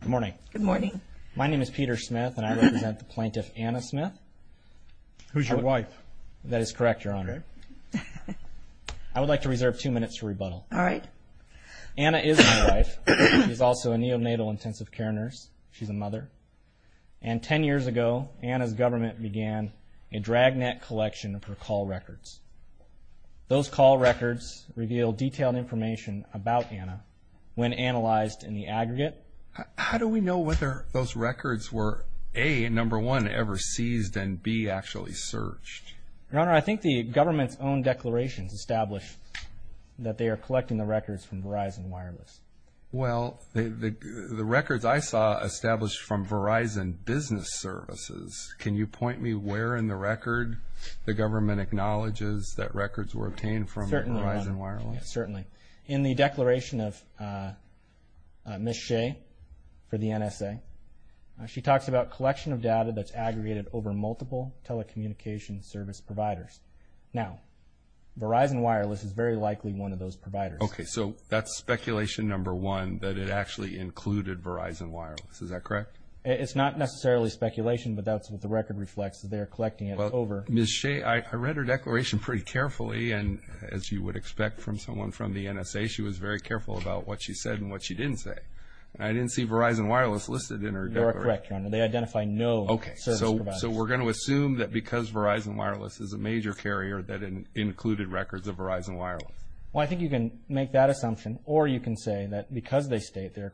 Good morning. Good morning. My name is Peter Smith and I represent the plaintiff Anna Smith. Who's your wife? That is correct, Your Honor. I would like to reserve two minutes to rebuttal. All right. Anna is my wife. She's also a neonatal intensive care nurse. She's a mother. And ten years ago, Anna's government began a dragnet collection of her call records. Those call records reveal detailed information about Anna when analyzed in the aggregate. How do we know whether those records were A, number one, ever seized and B, actually searched? Your Honor, I think the government's own declarations establish that they are collecting the records from Verizon Wireless. Well, the records I saw established from Verizon Business Services. Can you point me where in the record the government acknowledges that records were obtained from Verizon Wireless? Certainly, Your Honor. Certainly. In the declaration of Ms. Shea for the NSA, she talks about collection of data that's aggregated over multiple telecommunication service providers. Now, Verizon Wireless is very likely one of those providers. Okay. So that's speculation number one, that it actually included Verizon Wireless. Is that correct? It's not necessarily speculation, but that's what the record reflects, that they're collecting it over. Well, Ms. Shea, I read her declaration pretty carefully. And as you would expect from someone from the NSA, she was very careful about what she said and what she didn't say. And I didn't see Verizon Wireless listed in her declaration. You're correct, Your Honor. They identify no service providers. Okay. So we're going to assume that because Verizon Wireless is a major carrier that it included records of Verizon Wireless. Well, I think you can make that assumption. Or you can say that because they state they're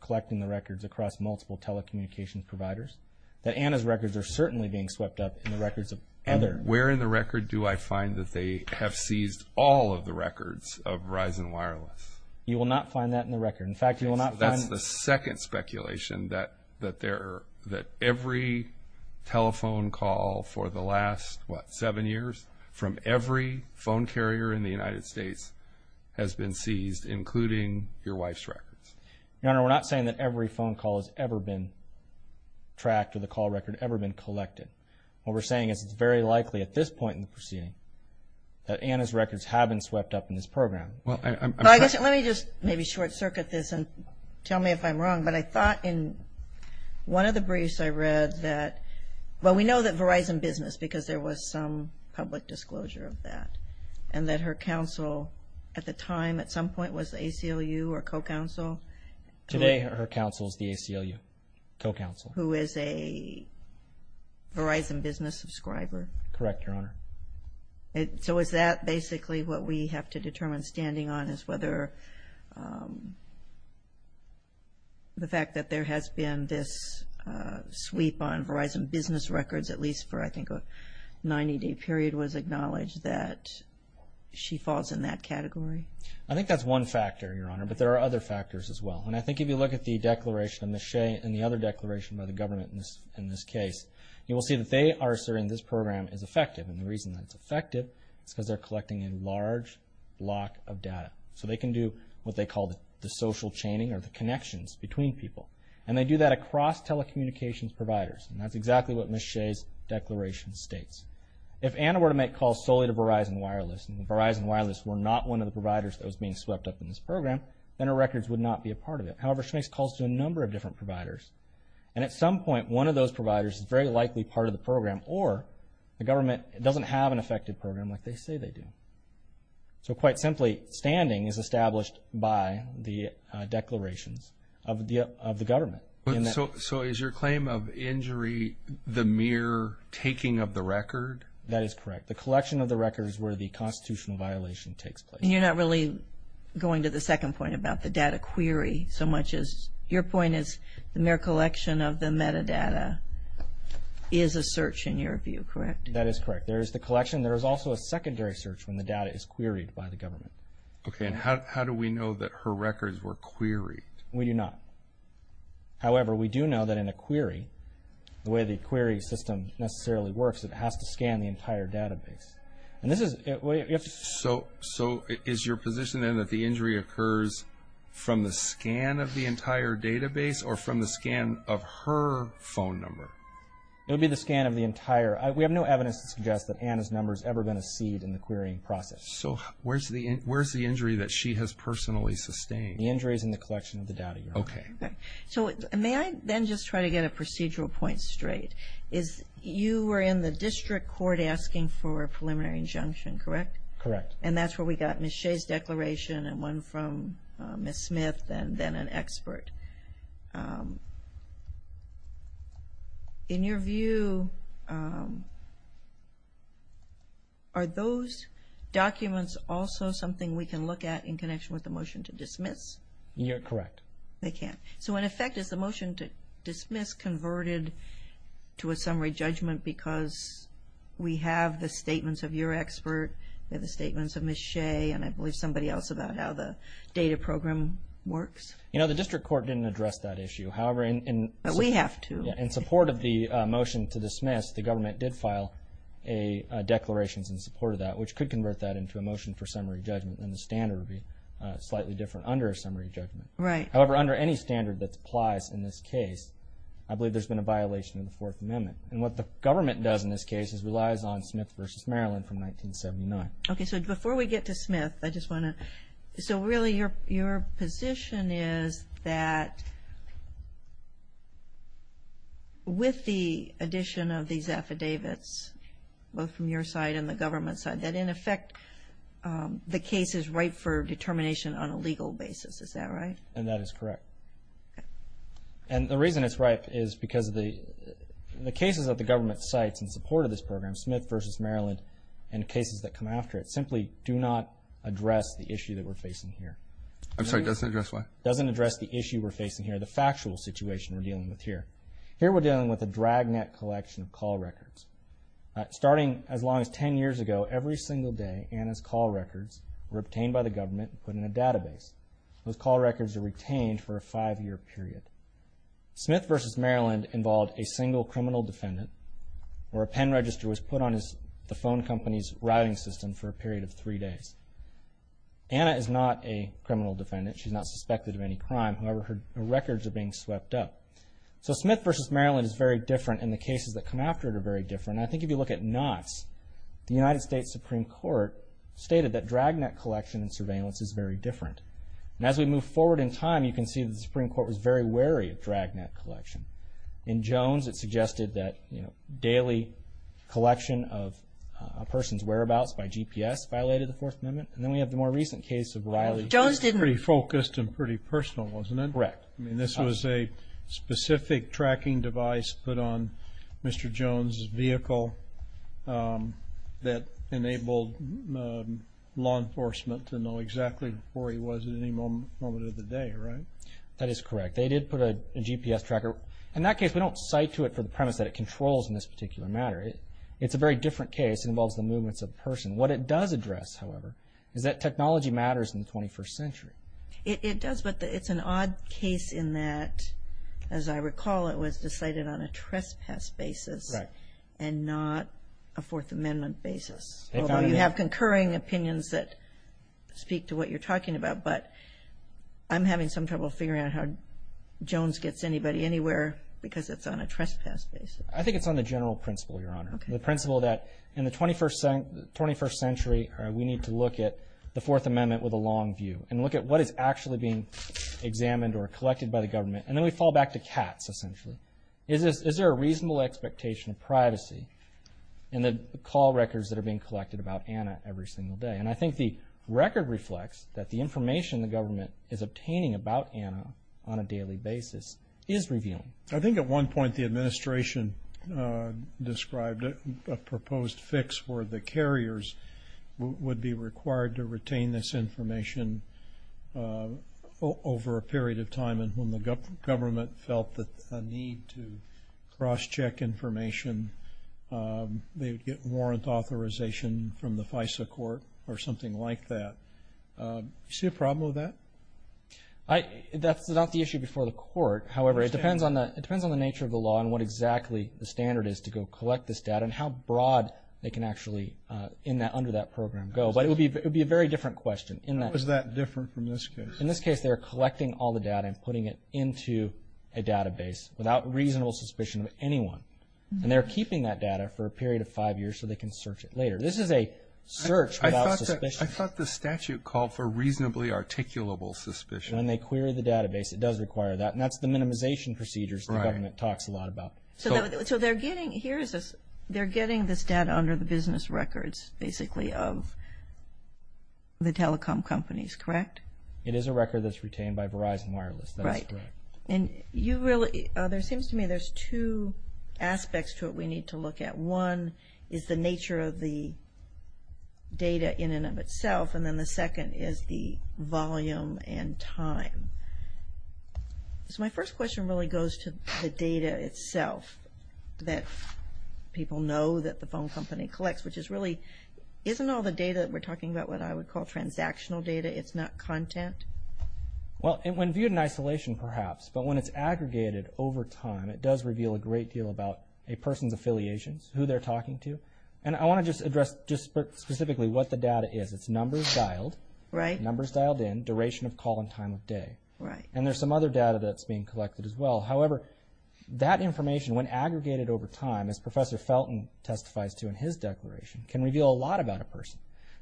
collecting the records across multiple telecommunication providers, that Anna's records are certainly being swept up in the records of others. Where in the record do I find that they have seized all of the records of Verizon Wireless? You will not find that in the record. In fact, you will not find it. That's the second speculation, that every telephone call for the last, what, seven years, from every phone carrier in the United States has been seized, including your wife's records. Your Honor, we're not saying that every phone call has ever been tracked or the call record ever been collected. What we're saying is it's very likely at this point in the proceeding that Anna's records have been swept up in this program. Let me just maybe short circuit this and tell me if I'm wrong. But I thought in one of the briefs I read that, well, we know that Verizon Business, because there was some public disclosure of that, and that her counsel at the time, at some point, was the ACLU or co-counsel. Today, her counsel is the ACLU co-counsel. Who is a Verizon Business subscriber. Correct, Your Honor. So is that basically what we have to determine standing on is whether the fact that there has been this sweep on Verizon Business records, at least for, I think, a 90-day period, was acknowledged that she falls in that category? I think that's one factor, Your Honor, but there are other factors as well. And I think if you look at the declaration and the other declaration by the government in this case, you will see that they are asserting this program is effective. And the reason that it's effective is because they're collecting a large block of data. So they can do what they call the social chaining or the connections between people. And they do that across telecommunications providers. And that's exactly what Ms. Shea's declaration states. If Anna were to make calls solely to Verizon Wireless, and Verizon Wireless were not one of the providers that was being swept up in this program, then her records would not be a part of it. However, she makes calls to a number of different providers. And at some point, one of those providers is very likely part of the program, or the government doesn't have an effective program like they say they do. So quite simply, standing is established by the declarations of the government. So is your claim of injury the mere taking of the record? That is correct. The collection of the record is where the constitutional violation takes place. You're not really going to the second point about the data query so much as your point is the mere collection of the metadata is a search in your view, correct? That is correct. There is the collection. There is also a secondary search when the data is queried by the government. Okay. And how do we know that her records were queried? We do not. However, we do know that in a query, the way the query system necessarily works, it has to scan the entire database. So is your position then that the injury occurs from the scan of the entire database or from the scan of her phone number? It would be the scan of the entire. We have no evidence to suggest that Anna's number has ever been a seed in the querying process. So where is the injury that she has personally sustained? The injury is in the collection of the data. Okay. So may I then just try to get a procedural point straight? You were in the district court asking for a preliminary injunction, correct? Correct. And that's where we got Ms. Shea's declaration and one from Ms. Smith and then an expert. In your view, are those documents also something we can look at in connection with the motion to dismiss? You're correct. They can. So in effect, is the motion to dismiss converted to a summary judgment because we have the statements of your expert and the statements of Ms. Shea and I believe somebody else about how the data program works? You know, the district court didn't address that issue. But we have to. In support of the motion to dismiss, the government did file a declaration in support of that, which could convert that into a motion for summary judgment and the standard would be slightly different under a summary judgment. Right. However, under any standard that applies in this case, I believe there's been a violation of the Fourth Amendment. And what the government does in this case is relies on Smith v. Maryland from 1979. Okay. So before we get to Smith, I just want to – so really your position is that with the addition of these affidavits, both from your side and the government side, that in effect the case is ripe for determination on a legal basis. Is that right? And that is correct. And the reason it's ripe is because the cases that the government cites in support of this program, Smith v. Maryland, and cases that come after it, simply do not address the issue that we're facing here. I'm sorry, doesn't address what? Doesn't address the issue we're facing here, the factual situation we're dealing with here. Here we're dealing with a dragnet collection of call records. Starting as long as 10 years ago, every single day, Anna's call records were obtained by the government and put in a database. Those call records are retained for a five-year period. Smith v. Maryland involved a single criminal defendant where a pen register was put on the phone company's routing system for a period of three days. Anna is not a criminal defendant. She's not suspected of any crime. However, her records are being swept up. So Smith v. Maryland is very different, and the cases that come after it are very different. And I think if you look at knots, the United States Supreme Court stated that dragnet collection and surveillance is very different. And as we move forward in time, you can see the Supreme Court was very wary of dragnet collection. In Jones, it suggested that daily collection of a person's whereabouts by GPS violated the Fourth Amendment. And then we have the more recent case of Riley. Jones didn't. It was pretty focused and pretty personal, wasn't it? Correct. I mean, this was a specific tracking device put on Mr. Jones' vehicle that enabled law enforcement to know exactly where he was at any moment of the day, right? That is correct. They did put a GPS tracker. In that case, we don't cite to it for the premise that it controls in this particular matter. It's a very different case. It involves the movements of a person. What it does address, however, is that technology matters in the 21st century. It does, but it's an odd case in that, as I recall, it was decided on a trespass basis and not a Fourth Amendment basis, although you have concurring opinions that speak to what you're talking about. But I'm having some trouble figuring out how Jones gets anybody anywhere because it's on a trespass basis. I think it's on the general principle, Your Honor, the principle that in the 21st century we need to look at the Fourth Amendment with a long view and look at what is actually being examined or collected by the government. And then we fall back to cats, essentially. Is there a reasonable expectation of privacy in the call records that are being collected about Anna every single day? And I think the record reflects that the information the government is obtaining about Anna on a daily basis is revealing. I think at one point the administration described a proposed fix where the carriers would be required to retain this information over a period of time and when the government felt the need to cross-check information, they would get warrant authorization from the FISA court or something like that. Do you see a problem with that? That's not the issue before the court. However, it depends on the nature of the law and what exactly the standard is to go collect this data and how broad they can actually, under that program, go. But it would be a very different question. How is that different from this case? In this case, they're collecting all the data and putting it into a database without reasonable suspicion of anyone. And they're keeping that data for a period of five years so they can search it later. This is a search without suspicion. I thought the statute called for reasonably articulable suspicion. When they query the database, it does require that. And that's the minimization procedures the government talks a lot about. So they're getting this data under the business records, basically, of the telecom companies, correct? It is a record that's retained by Verizon Wireless. That is correct. And you really – there seems to me there's two aspects to it we need to look at. One is the nature of the data in and of itself, and then the second is the volume and time. So my first question really goes to the data itself that people know that the phone company collects, which is really, isn't all the data that we're talking about what I would call transactional data? It's not content? Well, when viewed in isolation, perhaps, but when it's aggregated over time, it does reveal a great deal about a person's affiliations, who they're talking to. And I want to just address just specifically what the data is. It's numbers dialed. Right. Numbers dialed in, duration of call, and time of day. Right. And there's some other data that's being collected as well. However, that information, when aggregated over time, as Professor Felton testifies to in his declaration, can reveal a lot about a person.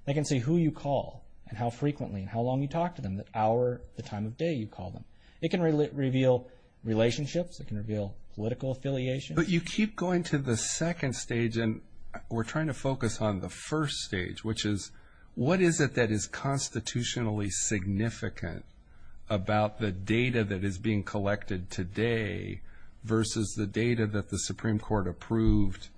They can see who you call and how frequently and how long you talk to them, the hour, the time of day you call them. It can reveal relationships. It can reveal political affiliations. But you keep going to the second stage, and we're trying to focus on the first stage, which is what is it that is constitutionally significant about the data that is being collected today versus the data that the Supreme Court approved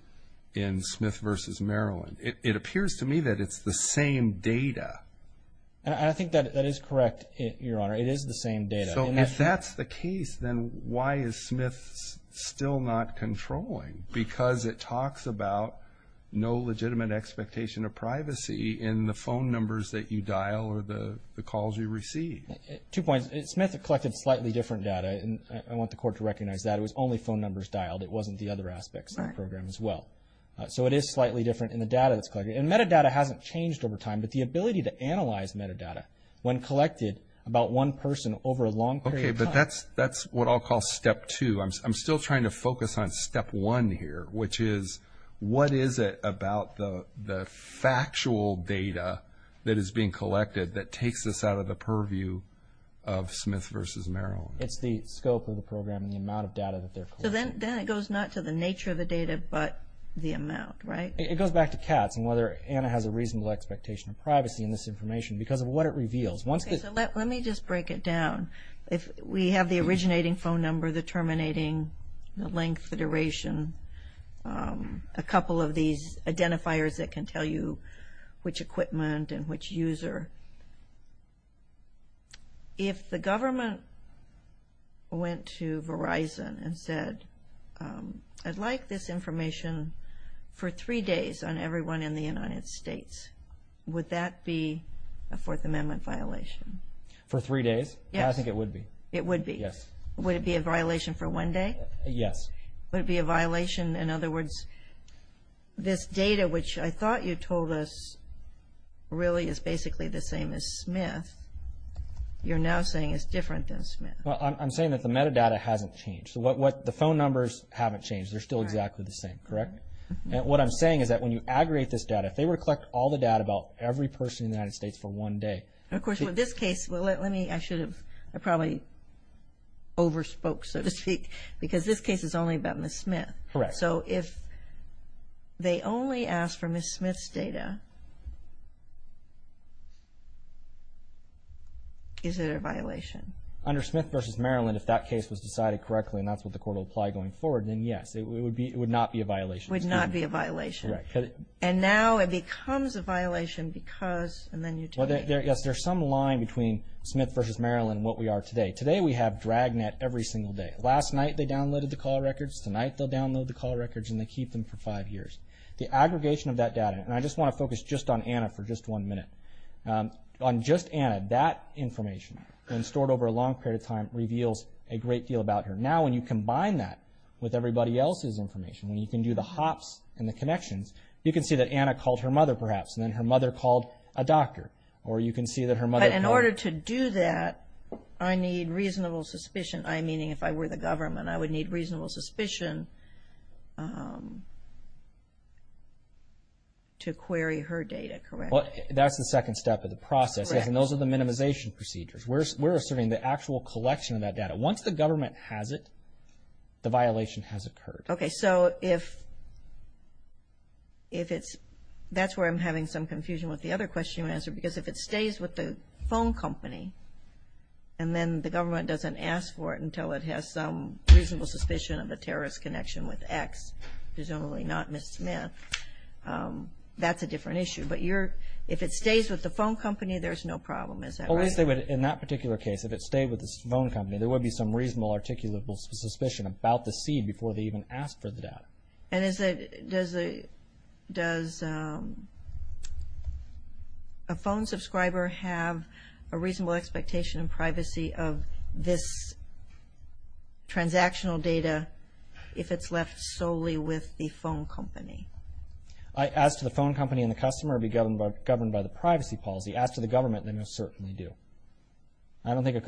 in Smith v. Maryland? It appears to me that it's the same data. And I think that is correct, Your Honor. It is the same data. So if that's the case, then why is Smith still not controlling? Because it talks about no legitimate expectation of privacy in the phone numbers that you dial or the calls you receive. Two points. Smith collected slightly different data, and I want the Court to recognize that. It was only phone numbers dialed. It wasn't the other aspects of the program as well. So it is slightly different in the data that's collected. And metadata hasn't changed over time, but the ability to analyze metadata when collected about one person over a long period of time. Okay, but that's what I'll call step two. I'm still trying to focus on step one here, which is what is it about the factual data that is being collected that takes us out of the purview of Smith v. Maryland? It's the scope of the program and the amount of data that they're collecting. So then it goes not to the nature of the data but the amount, right? It goes back to Katz and whether Anna has a reasonable expectation of privacy in this information because of what it reveals. Okay, so let me just break it down. We have the originating phone number, the terminating, the length, the duration, a couple of these identifiers that can tell you which equipment and which user. If the government went to Verizon and said, I'd like this information for three days on everyone in the United States, would that be a Fourth Amendment violation? For three days? Yes. I think it would be. It would be? Yes. Would it be a violation for one day? Yes. Would it be a violation, in other words, this data, which I thought you told us really is basically the same as Smith. You're now saying it's different than Smith. Well, I'm saying that the metadata hasn't changed. The phone numbers haven't changed. They're still exactly the same, correct? What I'm saying is that when you aggregate this data, if they were to collect all the data about every person in the United States for one day. Of course, with this case, I probably overspoke, so to speak, because this case is only about Ms. Smith. Correct. So if they only ask for Ms. Smith's data, is it a violation? Under Smith v. Maryland, if that case was decided correctly and that's what the court will apply going forward, then yes. It would not be a violation. Would not be a violation. Correct. And now it becomes a violation because, and then you take it. Yes, there's some line between Smith v. Maryland and what we are today. Today we have Dragnet every single day. Last night they downloaded the call records. Tonight they'll download the call records and they keep them for five years. The aggregation of that data, and I just want to focus just on Anna for just one minute. On just Anna, that information, when stored over a long period of time, reveals a great deal about her. Now when you combine that with everybody else's information, when you can do the hops and the connections, you can see that Anna called her mother, perhaps, and then her mother called a doctor. Or you can see that her mother. But in order to do that, I need reasonable suspicion. I, meaning if I were the government, I would need reasonable suspicion to query her data, correct? That's the second step of the process. And those are the minimization procedures. We're asserting the actual collection of that data. Once the government has it, the violation has occurred. Okay, so if it's, that's where I'm having some confusion with the other question you answered. Because if it stays with the phone company, and then the government doesn't ask for it until it has some reasonable suspicion of a terrorist connection with X, presumably not Ms. Smith, that's a different issue. But if it stays with the phone company, there's no problem, is that right? In that particular case, if it stayed with the phone company, there would be some reasonable articulable suspicion about the seed before they even asked for the data. And does a phone subscriber have a reasonable expectation in privacy of this transactional data if it's left solely with the phone company? As to the phone company and the customer be governed by the privacy policy, as to the government, they most certainly do. I don't think,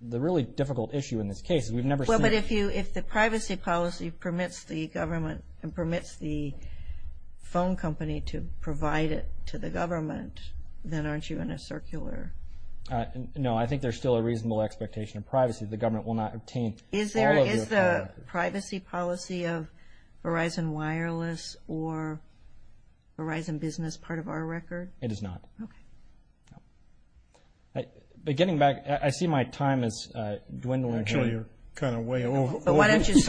the really difficult issue in this case is we've never seen But if the privacy policy permits the phone company to provide it to the government, then aren't you in a circular? No, I think there's still a reasonable expectation of privacy. The government will not obtain all of your data. Is the privacy policy of Verizon Wireless or Verizon Business part of our record? It is not. Okay. But getting back, I see my time is dwindling. Actually, you're kind of way over. Why don't you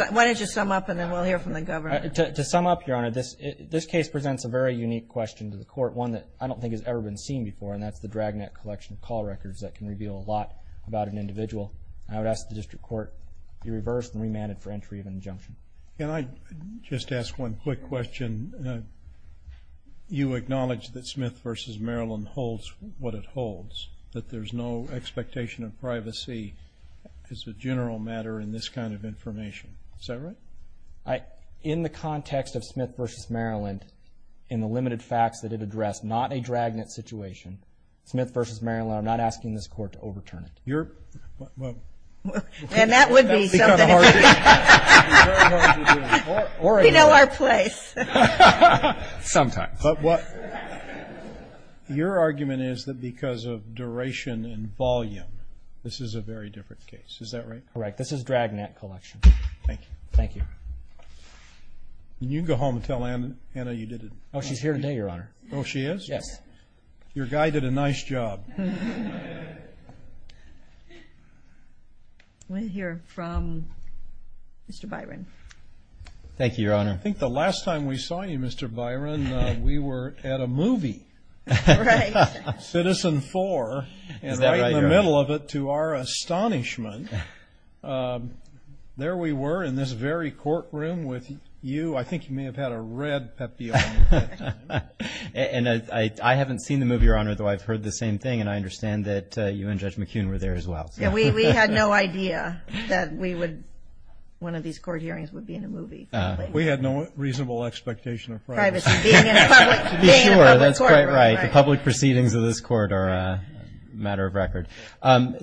sum up, and then we'll hear from the government. To sum up, Your Honor, this case presents a very unique question to the court, one that I don't think has ever been seen before, and that's the dragnet collection of call records that can reveal a lot about an individual. I would ask the district court to be reversed and remanded for entry of injunction. Can I just ask one quick question? You acknowledge that Smith v. Maryland holds what it holds, that there's no expectation of privacy as a general matter in this kind of information. Is that right? In the context of Smith v. Maryland, in the limited facts that it addressed, not a dragnet situation, Smith v. Maryland, I'm not asking this court to overturn it. We know our place. Sometimes. Your argument is that because of duration and volume, this is a very different case. Is that right? Correct. This is dragnet collection. Thank you. Thank you. You can go home and tell Anna you did it. Oh, she's here today, Your Honor. Oh, she is? Yes. Your guy did a nice job. We'll hear from Mr. Byron. Thank you, Your Honor. I think the last time we saw you, Mr. Byron, we were at a movie. Right. Citizen Four. Is that right, Your Honor? And right in the middle of it, to our astonishment, there we were in this very courtroom with you. I think you may have had a red pep deal. And I haven't seen the movie, Your Honor, though I've heard the same thing, and I understand that you and Judge McKeon were there as well. We had no idea that one of these court hearings would be in a movie. We had no reasonable expectation of privacy. Privacy, being in a public court. That's quite right. The public proceedings of this court are a matter of record.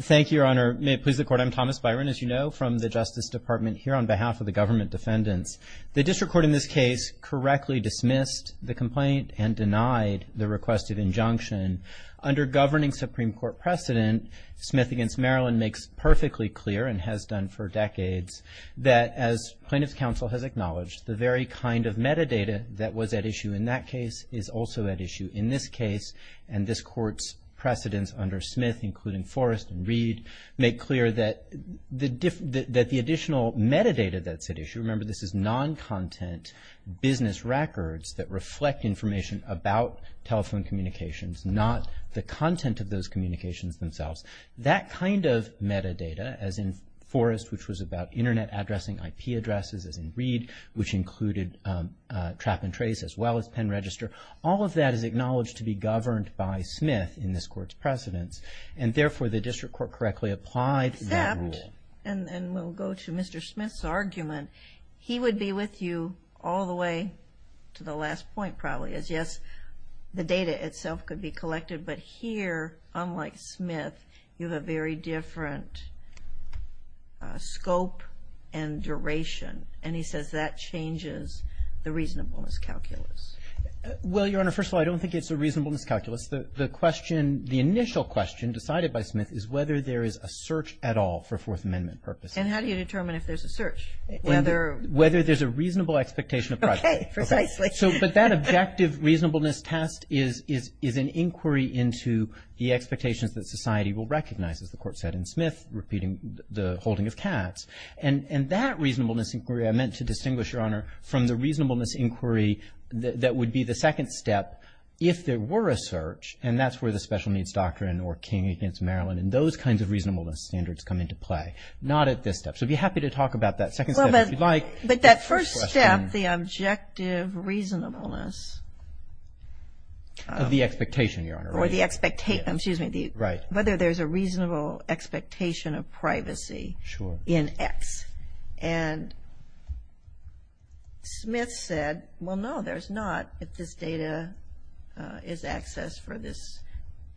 Thank you, Your Honor. May it please the Court, I'm Thomas Byron, as you know, from the Justice Department here on behalf of the government defendants. The district court in this case correctly dismissed the complaint and denied the request of injunction. Under governing Supreme Court precedent, Smith v. Maryland makes perfectly clear and has done for decades that, as plaintiff's counsel has acknowledged, the very kind of metadata that was at issue in that case is also at issue in this case. And this court's precedents under Smith, including Forrest and Reed, make clear that the additional metadata that's at issue, remember, this is non-content business records that reflect information about telephone communications, not the content of those communications themselves. That kind of metadata, as in Forrest, which was about Internet addressing IP addresses, as in Reed, which included trap and trace as well as pen register, all of that is acknowledged to be governed by Smith in this court's precedents. And, therefore, the district court correctly applied that rule. Except, and we'll go to Mr. Smith's argument, he would be with you all the way to the last point, probably, as, yes, the data itself could be collected. But here, unlike Smith, you have a very different scope and duration. And he says that changes the reasonableness calculus. Well, Your Honor, first of all, I don't think it's a reasonableness calculus. The question, the initial question decided by Smith, is whether there is a search at all for Fourth Amendment purposes. And how do you determine if there's a search? Whether there's a reasonable expectation of privacy. Okay, precisely. But that objective reasonableness test is an inquiry into the expectations that society will recognize, as the court said in Smith, repeating the holding of Katz. And that reasonableness inquiry, I meant to distinguish, Your Honor, from the reasonableness inquiry that would be the second step if there were a search, and that's where the special needs doctrine or King against Maryland and those kinds of reasonableness standards come into play. Not at this step. So I'd be happy to talk about that second step if you'd like. But that first step, the objective reasonableness. Of the expectation, Your Honor. Or the expectation, excuse me. Right. Whether there's a reasonable expectation of privacy. Sure. In X. And Smith said, well, no, there's not, if this data is accessed for this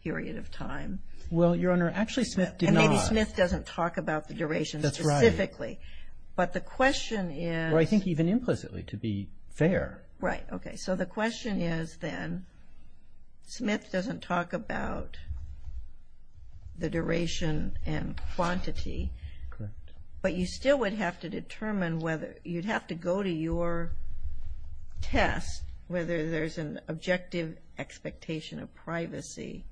period of time. Well, Your Honor, actually Smith did not. And maybe Smith doesn't talk about the duration specifically. That's right. But the question is. Well, I think even implicitly, to be fair. Right. Okay. So the question is, then, Smith doesn't talk about the duration and quantity. Correct. But you still would have to determine whether you'd have to go to your test whether there's an objective expectation of privacy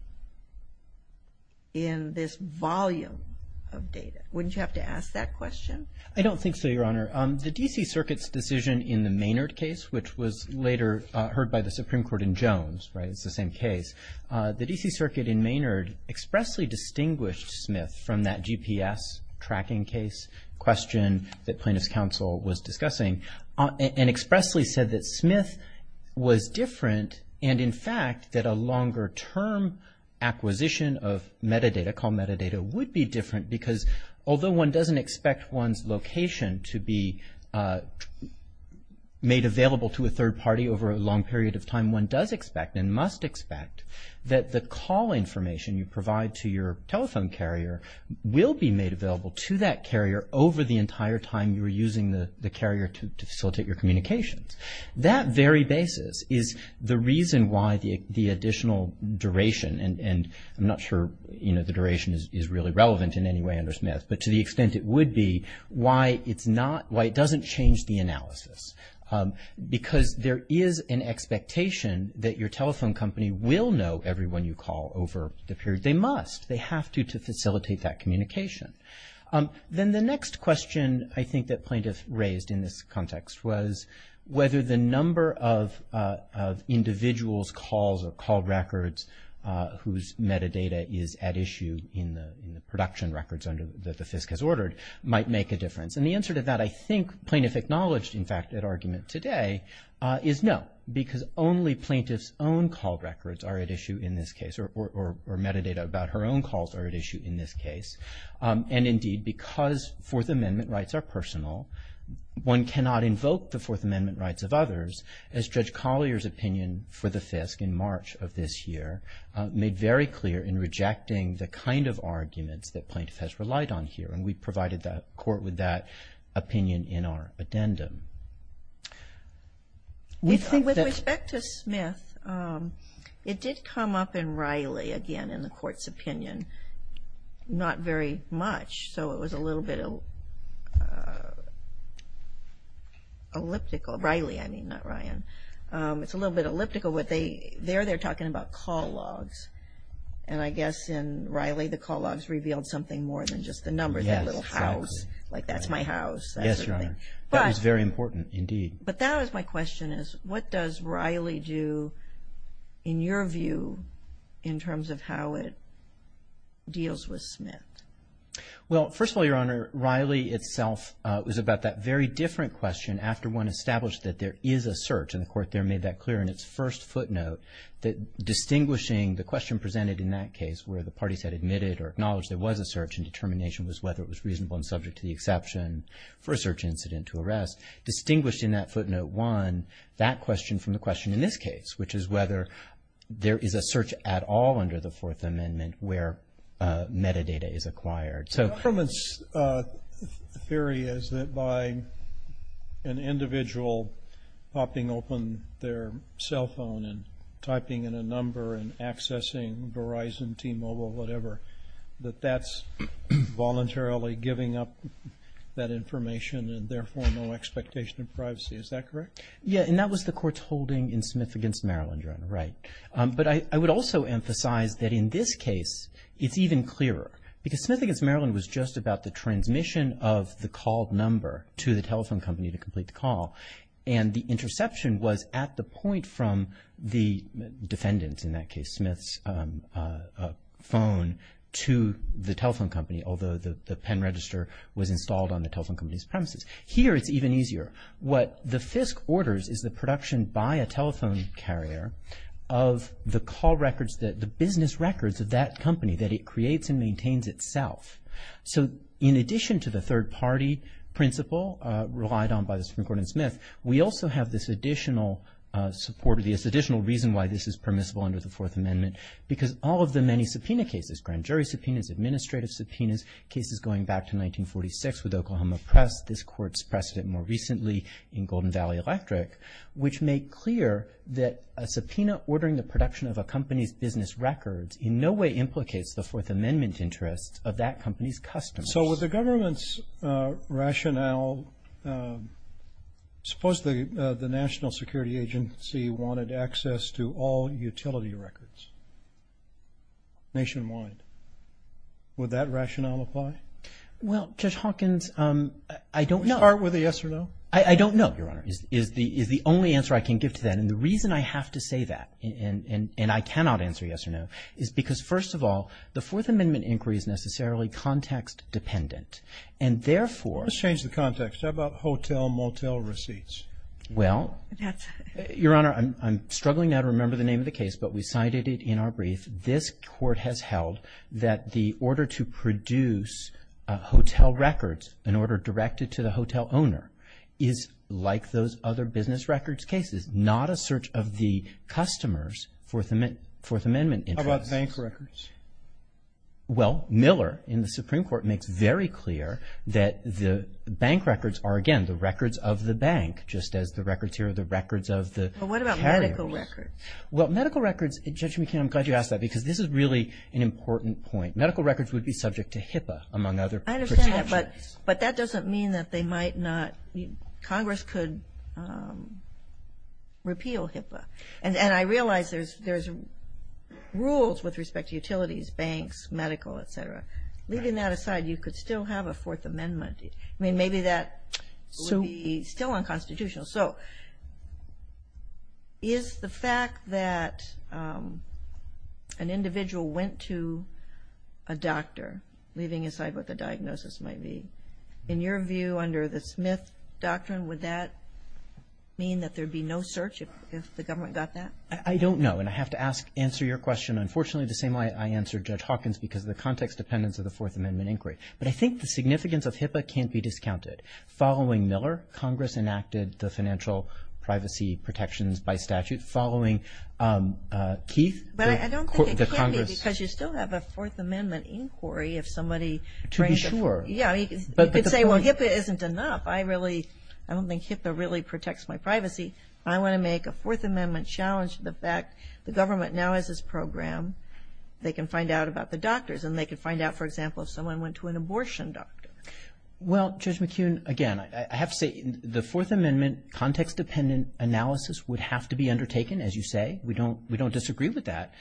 in this volume of data. Wouldn't you have to ask that question? I don't think so, Your Honor. The D.C. Circuit's decision in the Maynard case, which was later heard by the Supreme Court in Jones, right? It's the same case. The D.C. Circuit in Maynard expressly distinguished Smith from that GPS tracking case question that plaintiff's counsel was discussing. And expressly said that Smith was different. And, in fact, that a longer-term acquisition of metadata, called metadata, would be different because although one doesn't expect one's location to be made available to a third party over a long period of time, one does expect and must expect that the call information you provide to your telephone carrier will be made available to that carrier over the entire time you're using the carrier to facilitate your communications. That very basis is the reason why the additional duration and I'm not sure the duration is really relevant in any way under Smith, but to the extent it would be, why it doesn't change the analysis. Because there is an expectation that your telephone company will know everyone you call over the period. They must. They have to facilitate that communication. Then the next question I think that plaintiff raised in this context was whether the number of individuals' calls or call records whose metadata is at issue in the production records that the FISC has ordered might make a difference. And the answer to that, I think, plaintiff acknowledged, in fact, at argument today, is no. Because only plaintiff's own call records are at issue in this case or metadata about her own calls are at issue in this case. And, indeed, because Fourth Amendment rights are personal, one cannot invoke the Fourth Amendment rights of others, as Judge Collier's opinion for the FISC in March of this year made very clear in rejecting the kind of arguments that plaintiff has relied on here. And we provided the Court with that opinion in our addendum. With respect to Smith, it did come up in Riley, again, in the Court's opinion. Not very much. So it was a little bit elliptical. Riley, I mean, not Ryan. It's a little bit elliptical. There they're talking about call logs. And I guess in Riley the call logs revealed something more than just the number, that little house. Yes, exactly. Like, that's my house. Yes, Your Honor. That was very important, indeed. But that is my question, is what does Riley do, in your view, in terms of how it deals with Smith? Well, first of all, Your Honor, Riley itself was about that very different question after one established that there is a search. And the Court there made that clear in its first footnote, that distinguishing the question presented in that case where the parties had admitted or acknowledged there was a search and determination was whether it was reasonable and subject to the exception for a search incident to arrest. Distinguished in that footnote one, that question from the question in this case, which is whether there is a search at all under the Fourth Amendment where metadata is acquired. So from its theory is that by an individual popping open their cell phone and typing in a number and accessing Verizon, T-Mobile, whatever, that that's voluntarily giving up that information and therefore no expectation of privacy. Is that correct? Yes. And that was the Court's holding in Smith v. Maryland, Your Honor. Right. But I would also emphasize that in this case it's even clearer. Because Smith v. Maryland was just about the transmission of the called number to the telephone company to complete the call. And the interception was at the point from the defendant in that case, Smith's phone to the telephone company, although the pen register was installed on the telephone company's premises. Here it's even easier. What the FISC orders is the production by a telephone carrier of the call records, the business records of that company that it creates and maintains itself. So in addition to the third-party principle relied on by the Supreme Court in Smith, we also have this additional support, this additional reason why this is permissible under the Fourth Amendment because all of the many subpoena cases, grand jury subpoenas, administrative subpoenas, cases going back to 1946 with Oklahoma Press, this Court's precedent more recently in Golden Valley Electric, which make clear that a subpoena ordering the production of a company's business records in no way implicates the Fourth Amendment interests of that company's customers. So with the government's rationale, suppose the National Security Agency wanted access to all utility records nationwide. Would that rationale apply? Well, Judge Hawkins, I don't know. Start with a yes or no. I don't know, Your Honor, is the only answer I can give to that. And the reason I have to say that, and I cannot answer yes or no, is because, first of all, the Fourth Amendment inquiry is necessarily context-dependent. And therefore — Let's change the context. How about hotel-motel receipts? Well, Your Honor, I'm struggling now to remember the name of the case, but we cited it in our brief. This Court has held that the order to produce hotel records, an order directed to the hotel owner, is, like those other business records cases, not a search of the customers' Fourth Amendment interests. How about bank records? Well, Miller, in the Supreme Court, makes very clear that the bank records are, again, the records of the bank, just as the records here are the records of the carriers. Well, what about medical records? Well, medical records, Judge McKeon, I'm glad you asked that, because this is really an important point. Medical records would be subject to HIPAA, among other protections. But that doesn't mean that they might not — Congress could repeal HIPAA. And I realize there's rules with respect to utilities, banks, medical, et cetera. Leaving that aside, you could still have a Fourth Amendment. I mean, maybe that would be still unconstitutional. So is the fact that an individual went to a doctor, leaving aside what the diagnosis might be, in your view under the Smith Doctrine, would that mean that there would be no search if the government got that? I don't know. And I have to answer your question, unfortunately, the same way I answered Judge Hawkins, because of the context dependence of the Fourth Amendment inquiry. But I think the significance of HIPAA can't be discounted. Following Miller, Congress enacted the financial privacy protections by statute. Following Keith, the Congress — But I don't think it can't be, because you still have a Fourth Amendment inquiry if somebody — To be sure. Yeah, you could say, well, HIPAA isn't enough. I really — I don't think HIPAA really protects my privacy. I want to make a Fourth Amendment challenge to the fact the government now has this program. They can find out about the doctors, and they can find out, for example, if someone went to an abortion doctor. Well, Judge McKeon, again, I have to say, the Fourth Amendment context-dependent analysis would have to be undertaken, as you say. We don't disagree with that.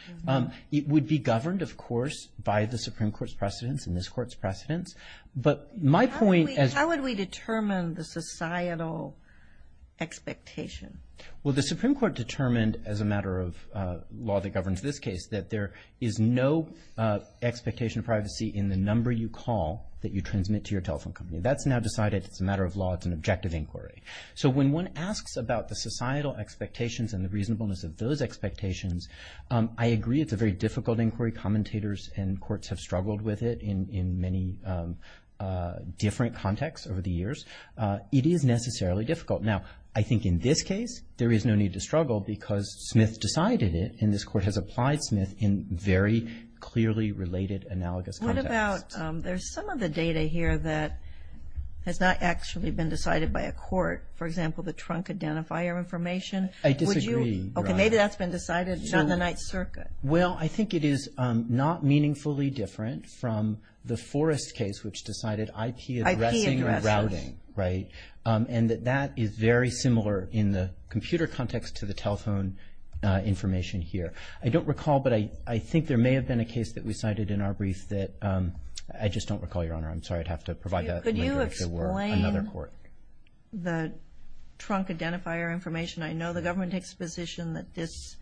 It would be governed, of course, by the Supreme Court's precedents and this Court's precedents. But my point as — How would we determine the societal expectation? Well, the Supreme Court determined, as a matter of law that governs this case, that there is no expectation of privacy in the number you call that you transmit to your telephone company. That's now decided. It's a matter of law. It's an objective inquiry. So when one asks about the societal expectations and the reasonableness of those expectations, I agree it's a very difficult inquiry. Commentators and courts have struggled with it in many different contexts over the years. It is necessarily difficult. Now, I think in this case, there is no need to struggle, because Smith decided it, and this Court has applied Smith in very clearly related analogous contexts. What about — there's some of the data here that has not actually been decided by a court. For example, the trunk identifier information. I disagree. Would you — okay, maybe that's been decided. It's not in the Ninth Circuit. Well, I think it is not meaningfully different from the Forrest case, which decided IP addressing and routing. IP addressing. That is very similar in the computer context to the telephone information here. I don't recall, but I think there may have been a case that we cited in our brief that — I just don't recall, Your Honor. I'm sorry. I'd have to provide that later if there were another court. Could you explain the trunk identifier information? I know the government takes a position that this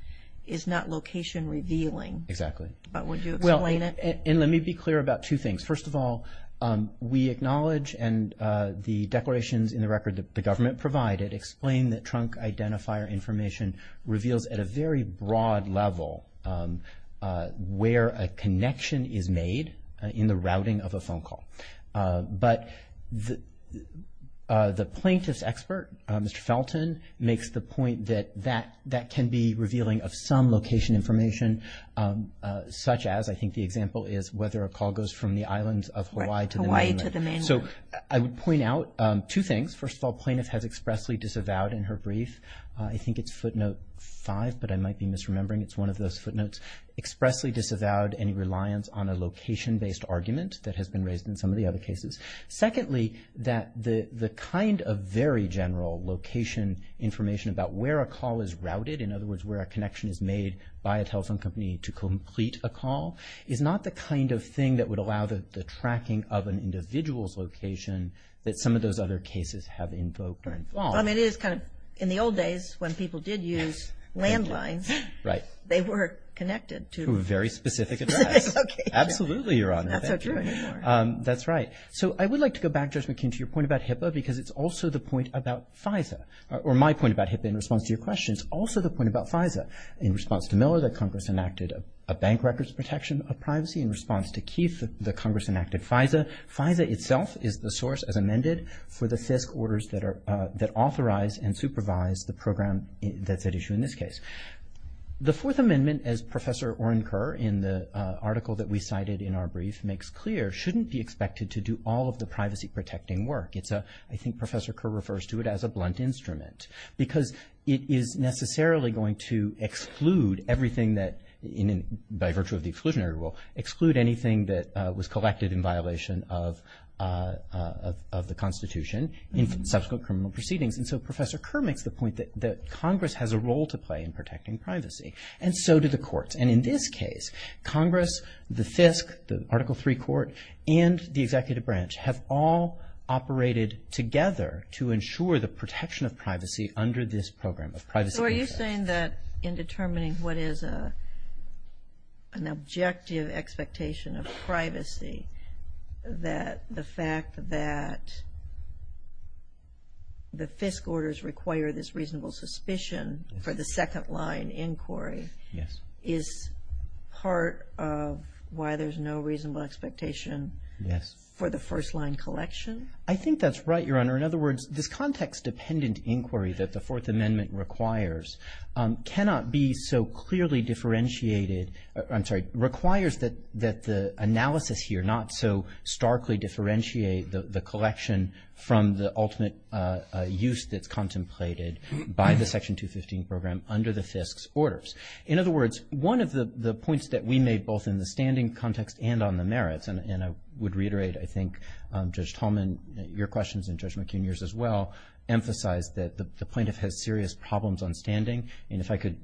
is not location revealing. Exactly. But would you explain it? Well, and let me be clear about two things. First of all, we acknowledge and the declarations in the record that the government provided explain that trunk identifier information reveals at a very broad level where a connection is made in the routing of a phone call. But the plaintiff's expert, Mr. Felton, makes the point that that can be revealing of some location information, such as I think the example is whether a call goes from the islands of Hawaii to the mainland. Hawaii to the mainland. So I would point out two things. First of all, plaintiff has expressly disavowed in her brief. I think it's footnote five, but I might be misremembering. It's one of those footnotes. Expressly disavowed any reliance on a location-based argument that has been raised in some of the other cases. Secondly, that the kind of very general location information about where a call is routed, in other words, where a connection is made by a telephone company to complete a call, is not the kind of thing that would allow the tracking of an individual's location that some of those other cases have invoked or involved. Well, I mean, it is kind of in the old days when people did use landlines. Right. They were connected to- To a very specific address. Okay. Absolutely, Your Honor. Not so true anymore. That's right. So I would like to go back, Judge McKeon, to your point about HIPAA because it's also the point about FISA, or my point about HIPAA in response to your question is also the point about FISA. In response to Miller, the Congress enacted a bank records protection of privacy. In response to Keith, the Congress enacted FISA. FISA itself is the source, as amended, for the FISC orders that authorize and supervise the program that's at issue in this case. The Fourth Amendment, as Professor Oren Kerr, in the article that we cited in our brief, makes clear, shouldn't be expected to do all of the privacy-protecting work. It's a- I think Professor Kerr refers to it as a blunt instrument because it is necessarily going to exclude everything that, by virtue of the exclusionary rule, exclude anything that was collected in violation of the Constitution in subsequent criminal proceedings. And so Professor Kerr makes the point that Congress has a role to play in protecting privacy, and so do the courts. And in this case, Congress, the FISC, the Article III court, and the executive branch have all operated together to ensure the protection of privacy under this program of privacy. So are you saying that in determining what is an objective expectation of privacy, that the fact that the FISC orders require this reasonable suspicion for the second line inquiry is part of why there's no reasonable expectation for the first line collection? I think that's right, Your Honor. In other words, this context-dependent inquiry that the Fourth Amendment requires cannot be so clearly differentiated- I'm sorry, requires that the analysis here not so starkly differentiate the collection from the ultimate use that's contemplated by the Section 215 program under the FISC's orders. In other words, one of the points that we made both in the standing context and on the merits- and I would reiterate, I think, Judge Tallman, your questions, and Judge McHenry's as well- emphasized that the plaintiff has serious problems on standing. And if I could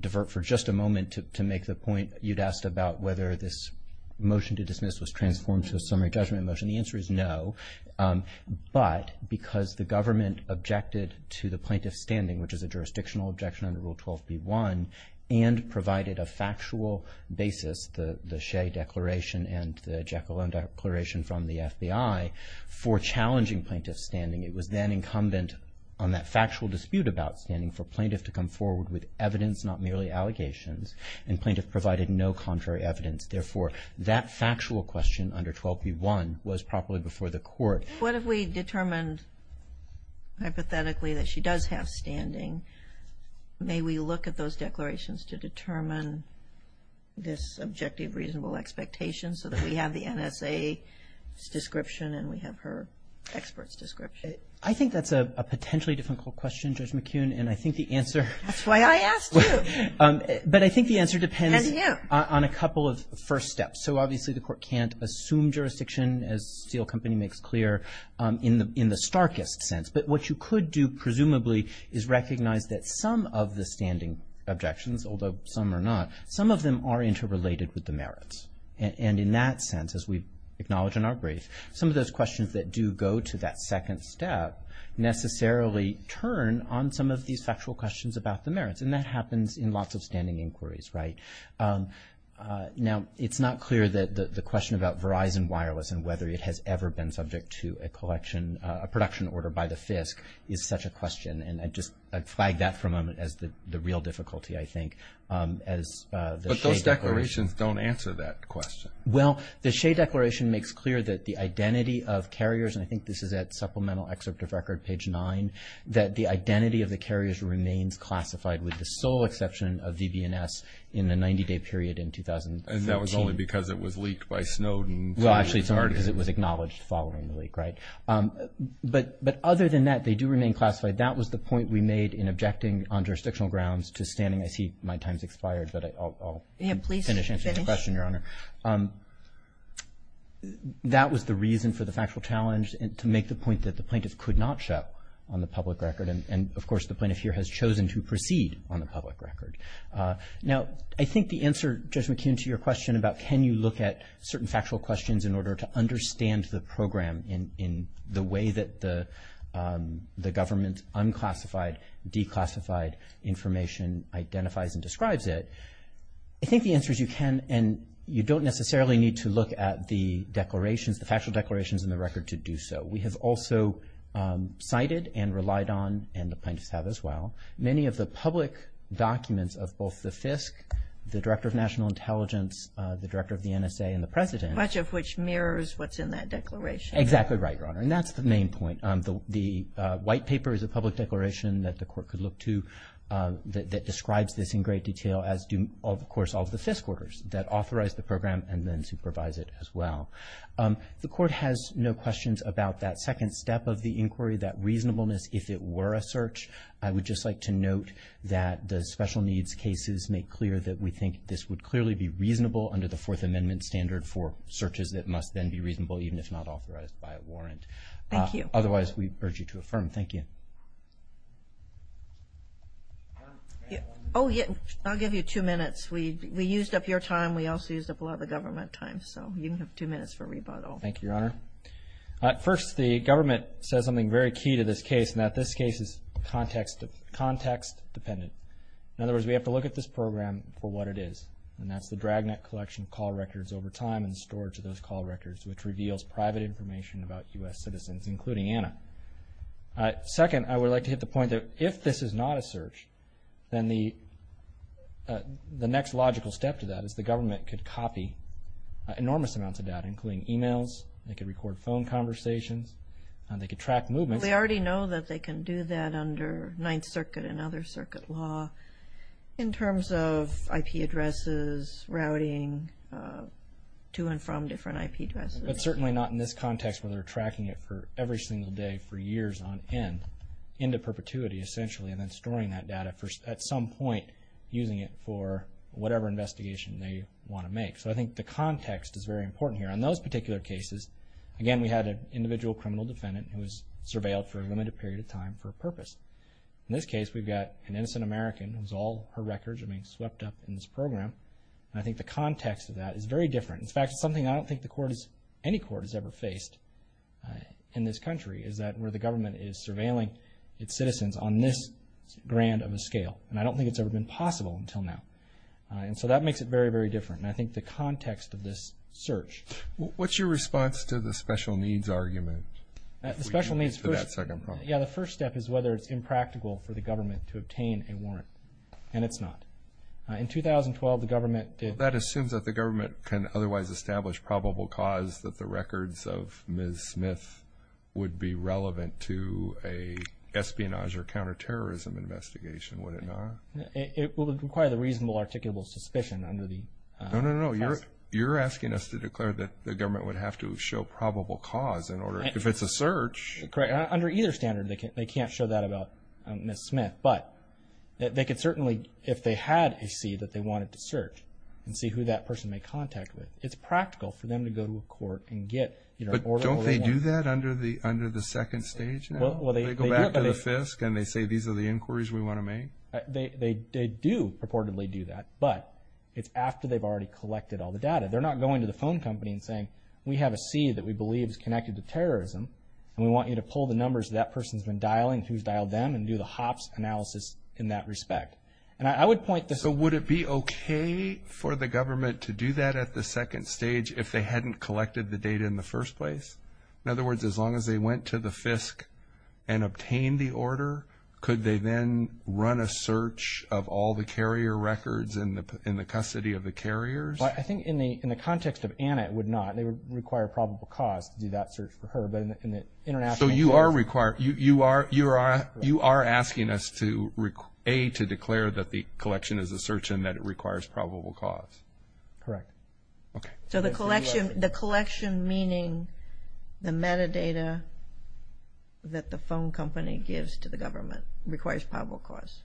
divert for just a moment to make the point you'd asked about whether this motion to dismiss was transformed to a summary judgment motion, the answer is no, but because the government objected to the plaintiff's standing, which is a jurisdictional objection under Rule 12b-1, and provided a factual basis- the Shea Declaration and the Jekyll and Hyde Declaration from the FBI- for challenging plaintiff's standing, it was then incumbent on that factual dispute about standing for plaintiff to come forward with evidence, not merely allegations, and plaintiff provided no contrary evidence. Therefore, that factual question under 12b-1 was properly before the court. What if we determined hypothetically that she does have standing? May we look at those declarations to determine this objective reasonable expectation so that we have the NSA's description and we have her expert's description? I think that's a potentially difficult question, Judge McHenry, and I think the answer- That's why I asked you. But I think the answer depends- And you. On a couple of first steps. So obviously the court can't assume jurisdiction, as Steele Company makes clear, in the starkest sense. But what you could do, presumably, is recognize that some of the standing objections, although some are not, some of them are interrelated with the merits. And in that sense, as we acknowledge in our brief, some of those questions that do go to that second step necessarily turn on some of these factual questions about the merits, and that happens in lots of standing inquiries, right? Now, it's not clear that the question about Verizon Wireless and whether it has ever been subject to a production order by the FISC is such a question, and I'd just flag that for a moment as the real difficulty, I think, as the Shea Declaration- But those declarations don't answer that question. Well, the Shea Declaration makes clear that the identity of carriers, and I think this is at Supplemental Excerpt of Record, page 9, that the identity of the carriers remains classified, with the sole exception of VB&S in the 90-day period in 2013. And that was only because it was leaked by Snowden. Well, actually, it's only because it was acknowledged following the leak, right? But other than that, they do remain classified. That was the point we made in objecting on jurisdictional grounds to standing- I see my time's expired, but I'll finish answering the question, Your Honor. Yeah, please finish. That was the reason for the factual challenge, to make the point that the plaintiff could not show on the public record, and, of course, the plaintiff here has chosen to proceed on the public record. Now, I think the answer, Judge McKeon, to your question about can you look at certain factual questions in order to understand the program in the way that the government unclassified, declassified information identifies and describes it, I think the answer is you can, and you don't necessarily need to look at the declarations, and the record to do so. We have also cited and relied on, and the plaintiffs have as well, many of the public documents of both the FISC, the Director of National Intelligence, the Director of the NSA, and the President. Much of which mirrors what's in that declaration. Exactly right, Your Honor, and that's the main point. The white paper is a public declaration that the court could look to that describes this in great detail, as do, of course, all of the FISC orders that authorize the program and then supervise it as well. The court has no questions about that second step of the inquiry, that reasonableness, if it were a search. I would just like to note that the special needs cases make clear that we think this would clearly be reasonable under the Fourth Amendment standard for searches that must then be reasonable even if not authorized by a warrant. Thank you. Otherwise, we urge you to affirm. Thank you. I'll give you two minutes. We used up your time. We also used up a lot of the government time. So you have two minutes for rebuttal. Thank you, Your Honor. First, the government says something very key to this case, and that this case is context dependent. In other words, we have to look at this program for what it is, and that's the dragnet collection of call records over time and storage of those call records, which reveals private information about U.S. citizens, including Anna. Second, I would like to hit the point that if this is not a search, then the next logical step to that is the government could copy enormous amounts of data, including e-mails. They could record phone conversations. They could track movements. They already know that they can do that under Ninth Circuit and other circuit law in terms of IP addresses, routing to and from different IP addresses. But certainly not in this context where they're tracking it for every single day for years on end, into perpetuity, essentially, and then storing that data at some point, using it for whatever investigation they want to make. So I think the context is very important here. On those particular cases, again, we had an individual criminal defendant who was surveilled for a limited period of time for a purpose. In this case, we've got an innocent American whose all her records are being swept up in this program, and I think the context of that is very different. In fact, it's something I don't think any court has ever faced in this country, is that where the government is surveilling its citizens on this grand of a scale, and I don't think it's ever been possible until now. And so that makes it very, very different, and I think the context of this search. What's your response to the special needs argument for that second problem? Yeah, the first step is whether it's impractical for the government to obtain a warrant, and it's not. In 2012, the government did. Well, that assumes that the government can otherwise establish probable cause that the records of Ms. Smith would be relevant to a espionage or counterterrorism investigation, would it not? It would require the reasonable articulable suspicion under the test. No, no, no. You're asking us to declare that the government would have to show probable cause if it's a search. Correct. Under either standard, they can't show that about Ms. Smith, but they could certainly, if they had a seed that they wanted to search and see who that person made contact with, it's practical for them to go to a court and get an order. But don't they do that under the second stage now? They go back to the FISC and they say, these are the inquiries we want to make? They do purportedly do that, but it's after they've already collected all the data. They're not going to the phone company and saying, we have a seed that we believe is connected to terrorism, and we want you to pull the numbers that that person's been dialing, who's dialed them, and do the hops analysis in that respect. So would it be okay for the government to do that at the second stage if they hadn't collected the data in the first place? In other words, as long as they went to the FISC and obtained the order, could they then run a search of all the carrier records in the custody of the carriers? I think in the context of Anna, it would not. They would require probable cause to do that search for her. So you are asking us to, A, to declare that the collection is a search and that it requires probable cause? Correct. Okay. So the collection meaning the metadata that the phone company gives to the government requires probable cause?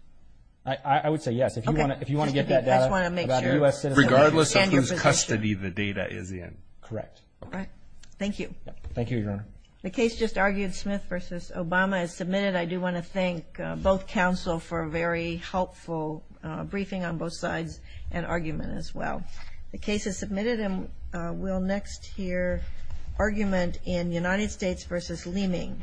I would say yes. If you want to get that data about a U.S. citizen and your position. Regardless of whose custody the data is in. Correct. All right. Thank you. Thank you, Your Honor. The case just argued, Smith v. Obama, is submitted. I do want to thank both counsel for a very helpful briefing on both sides and argument as well. The case is submitted and we'll next hear argument in United States v. Leeming.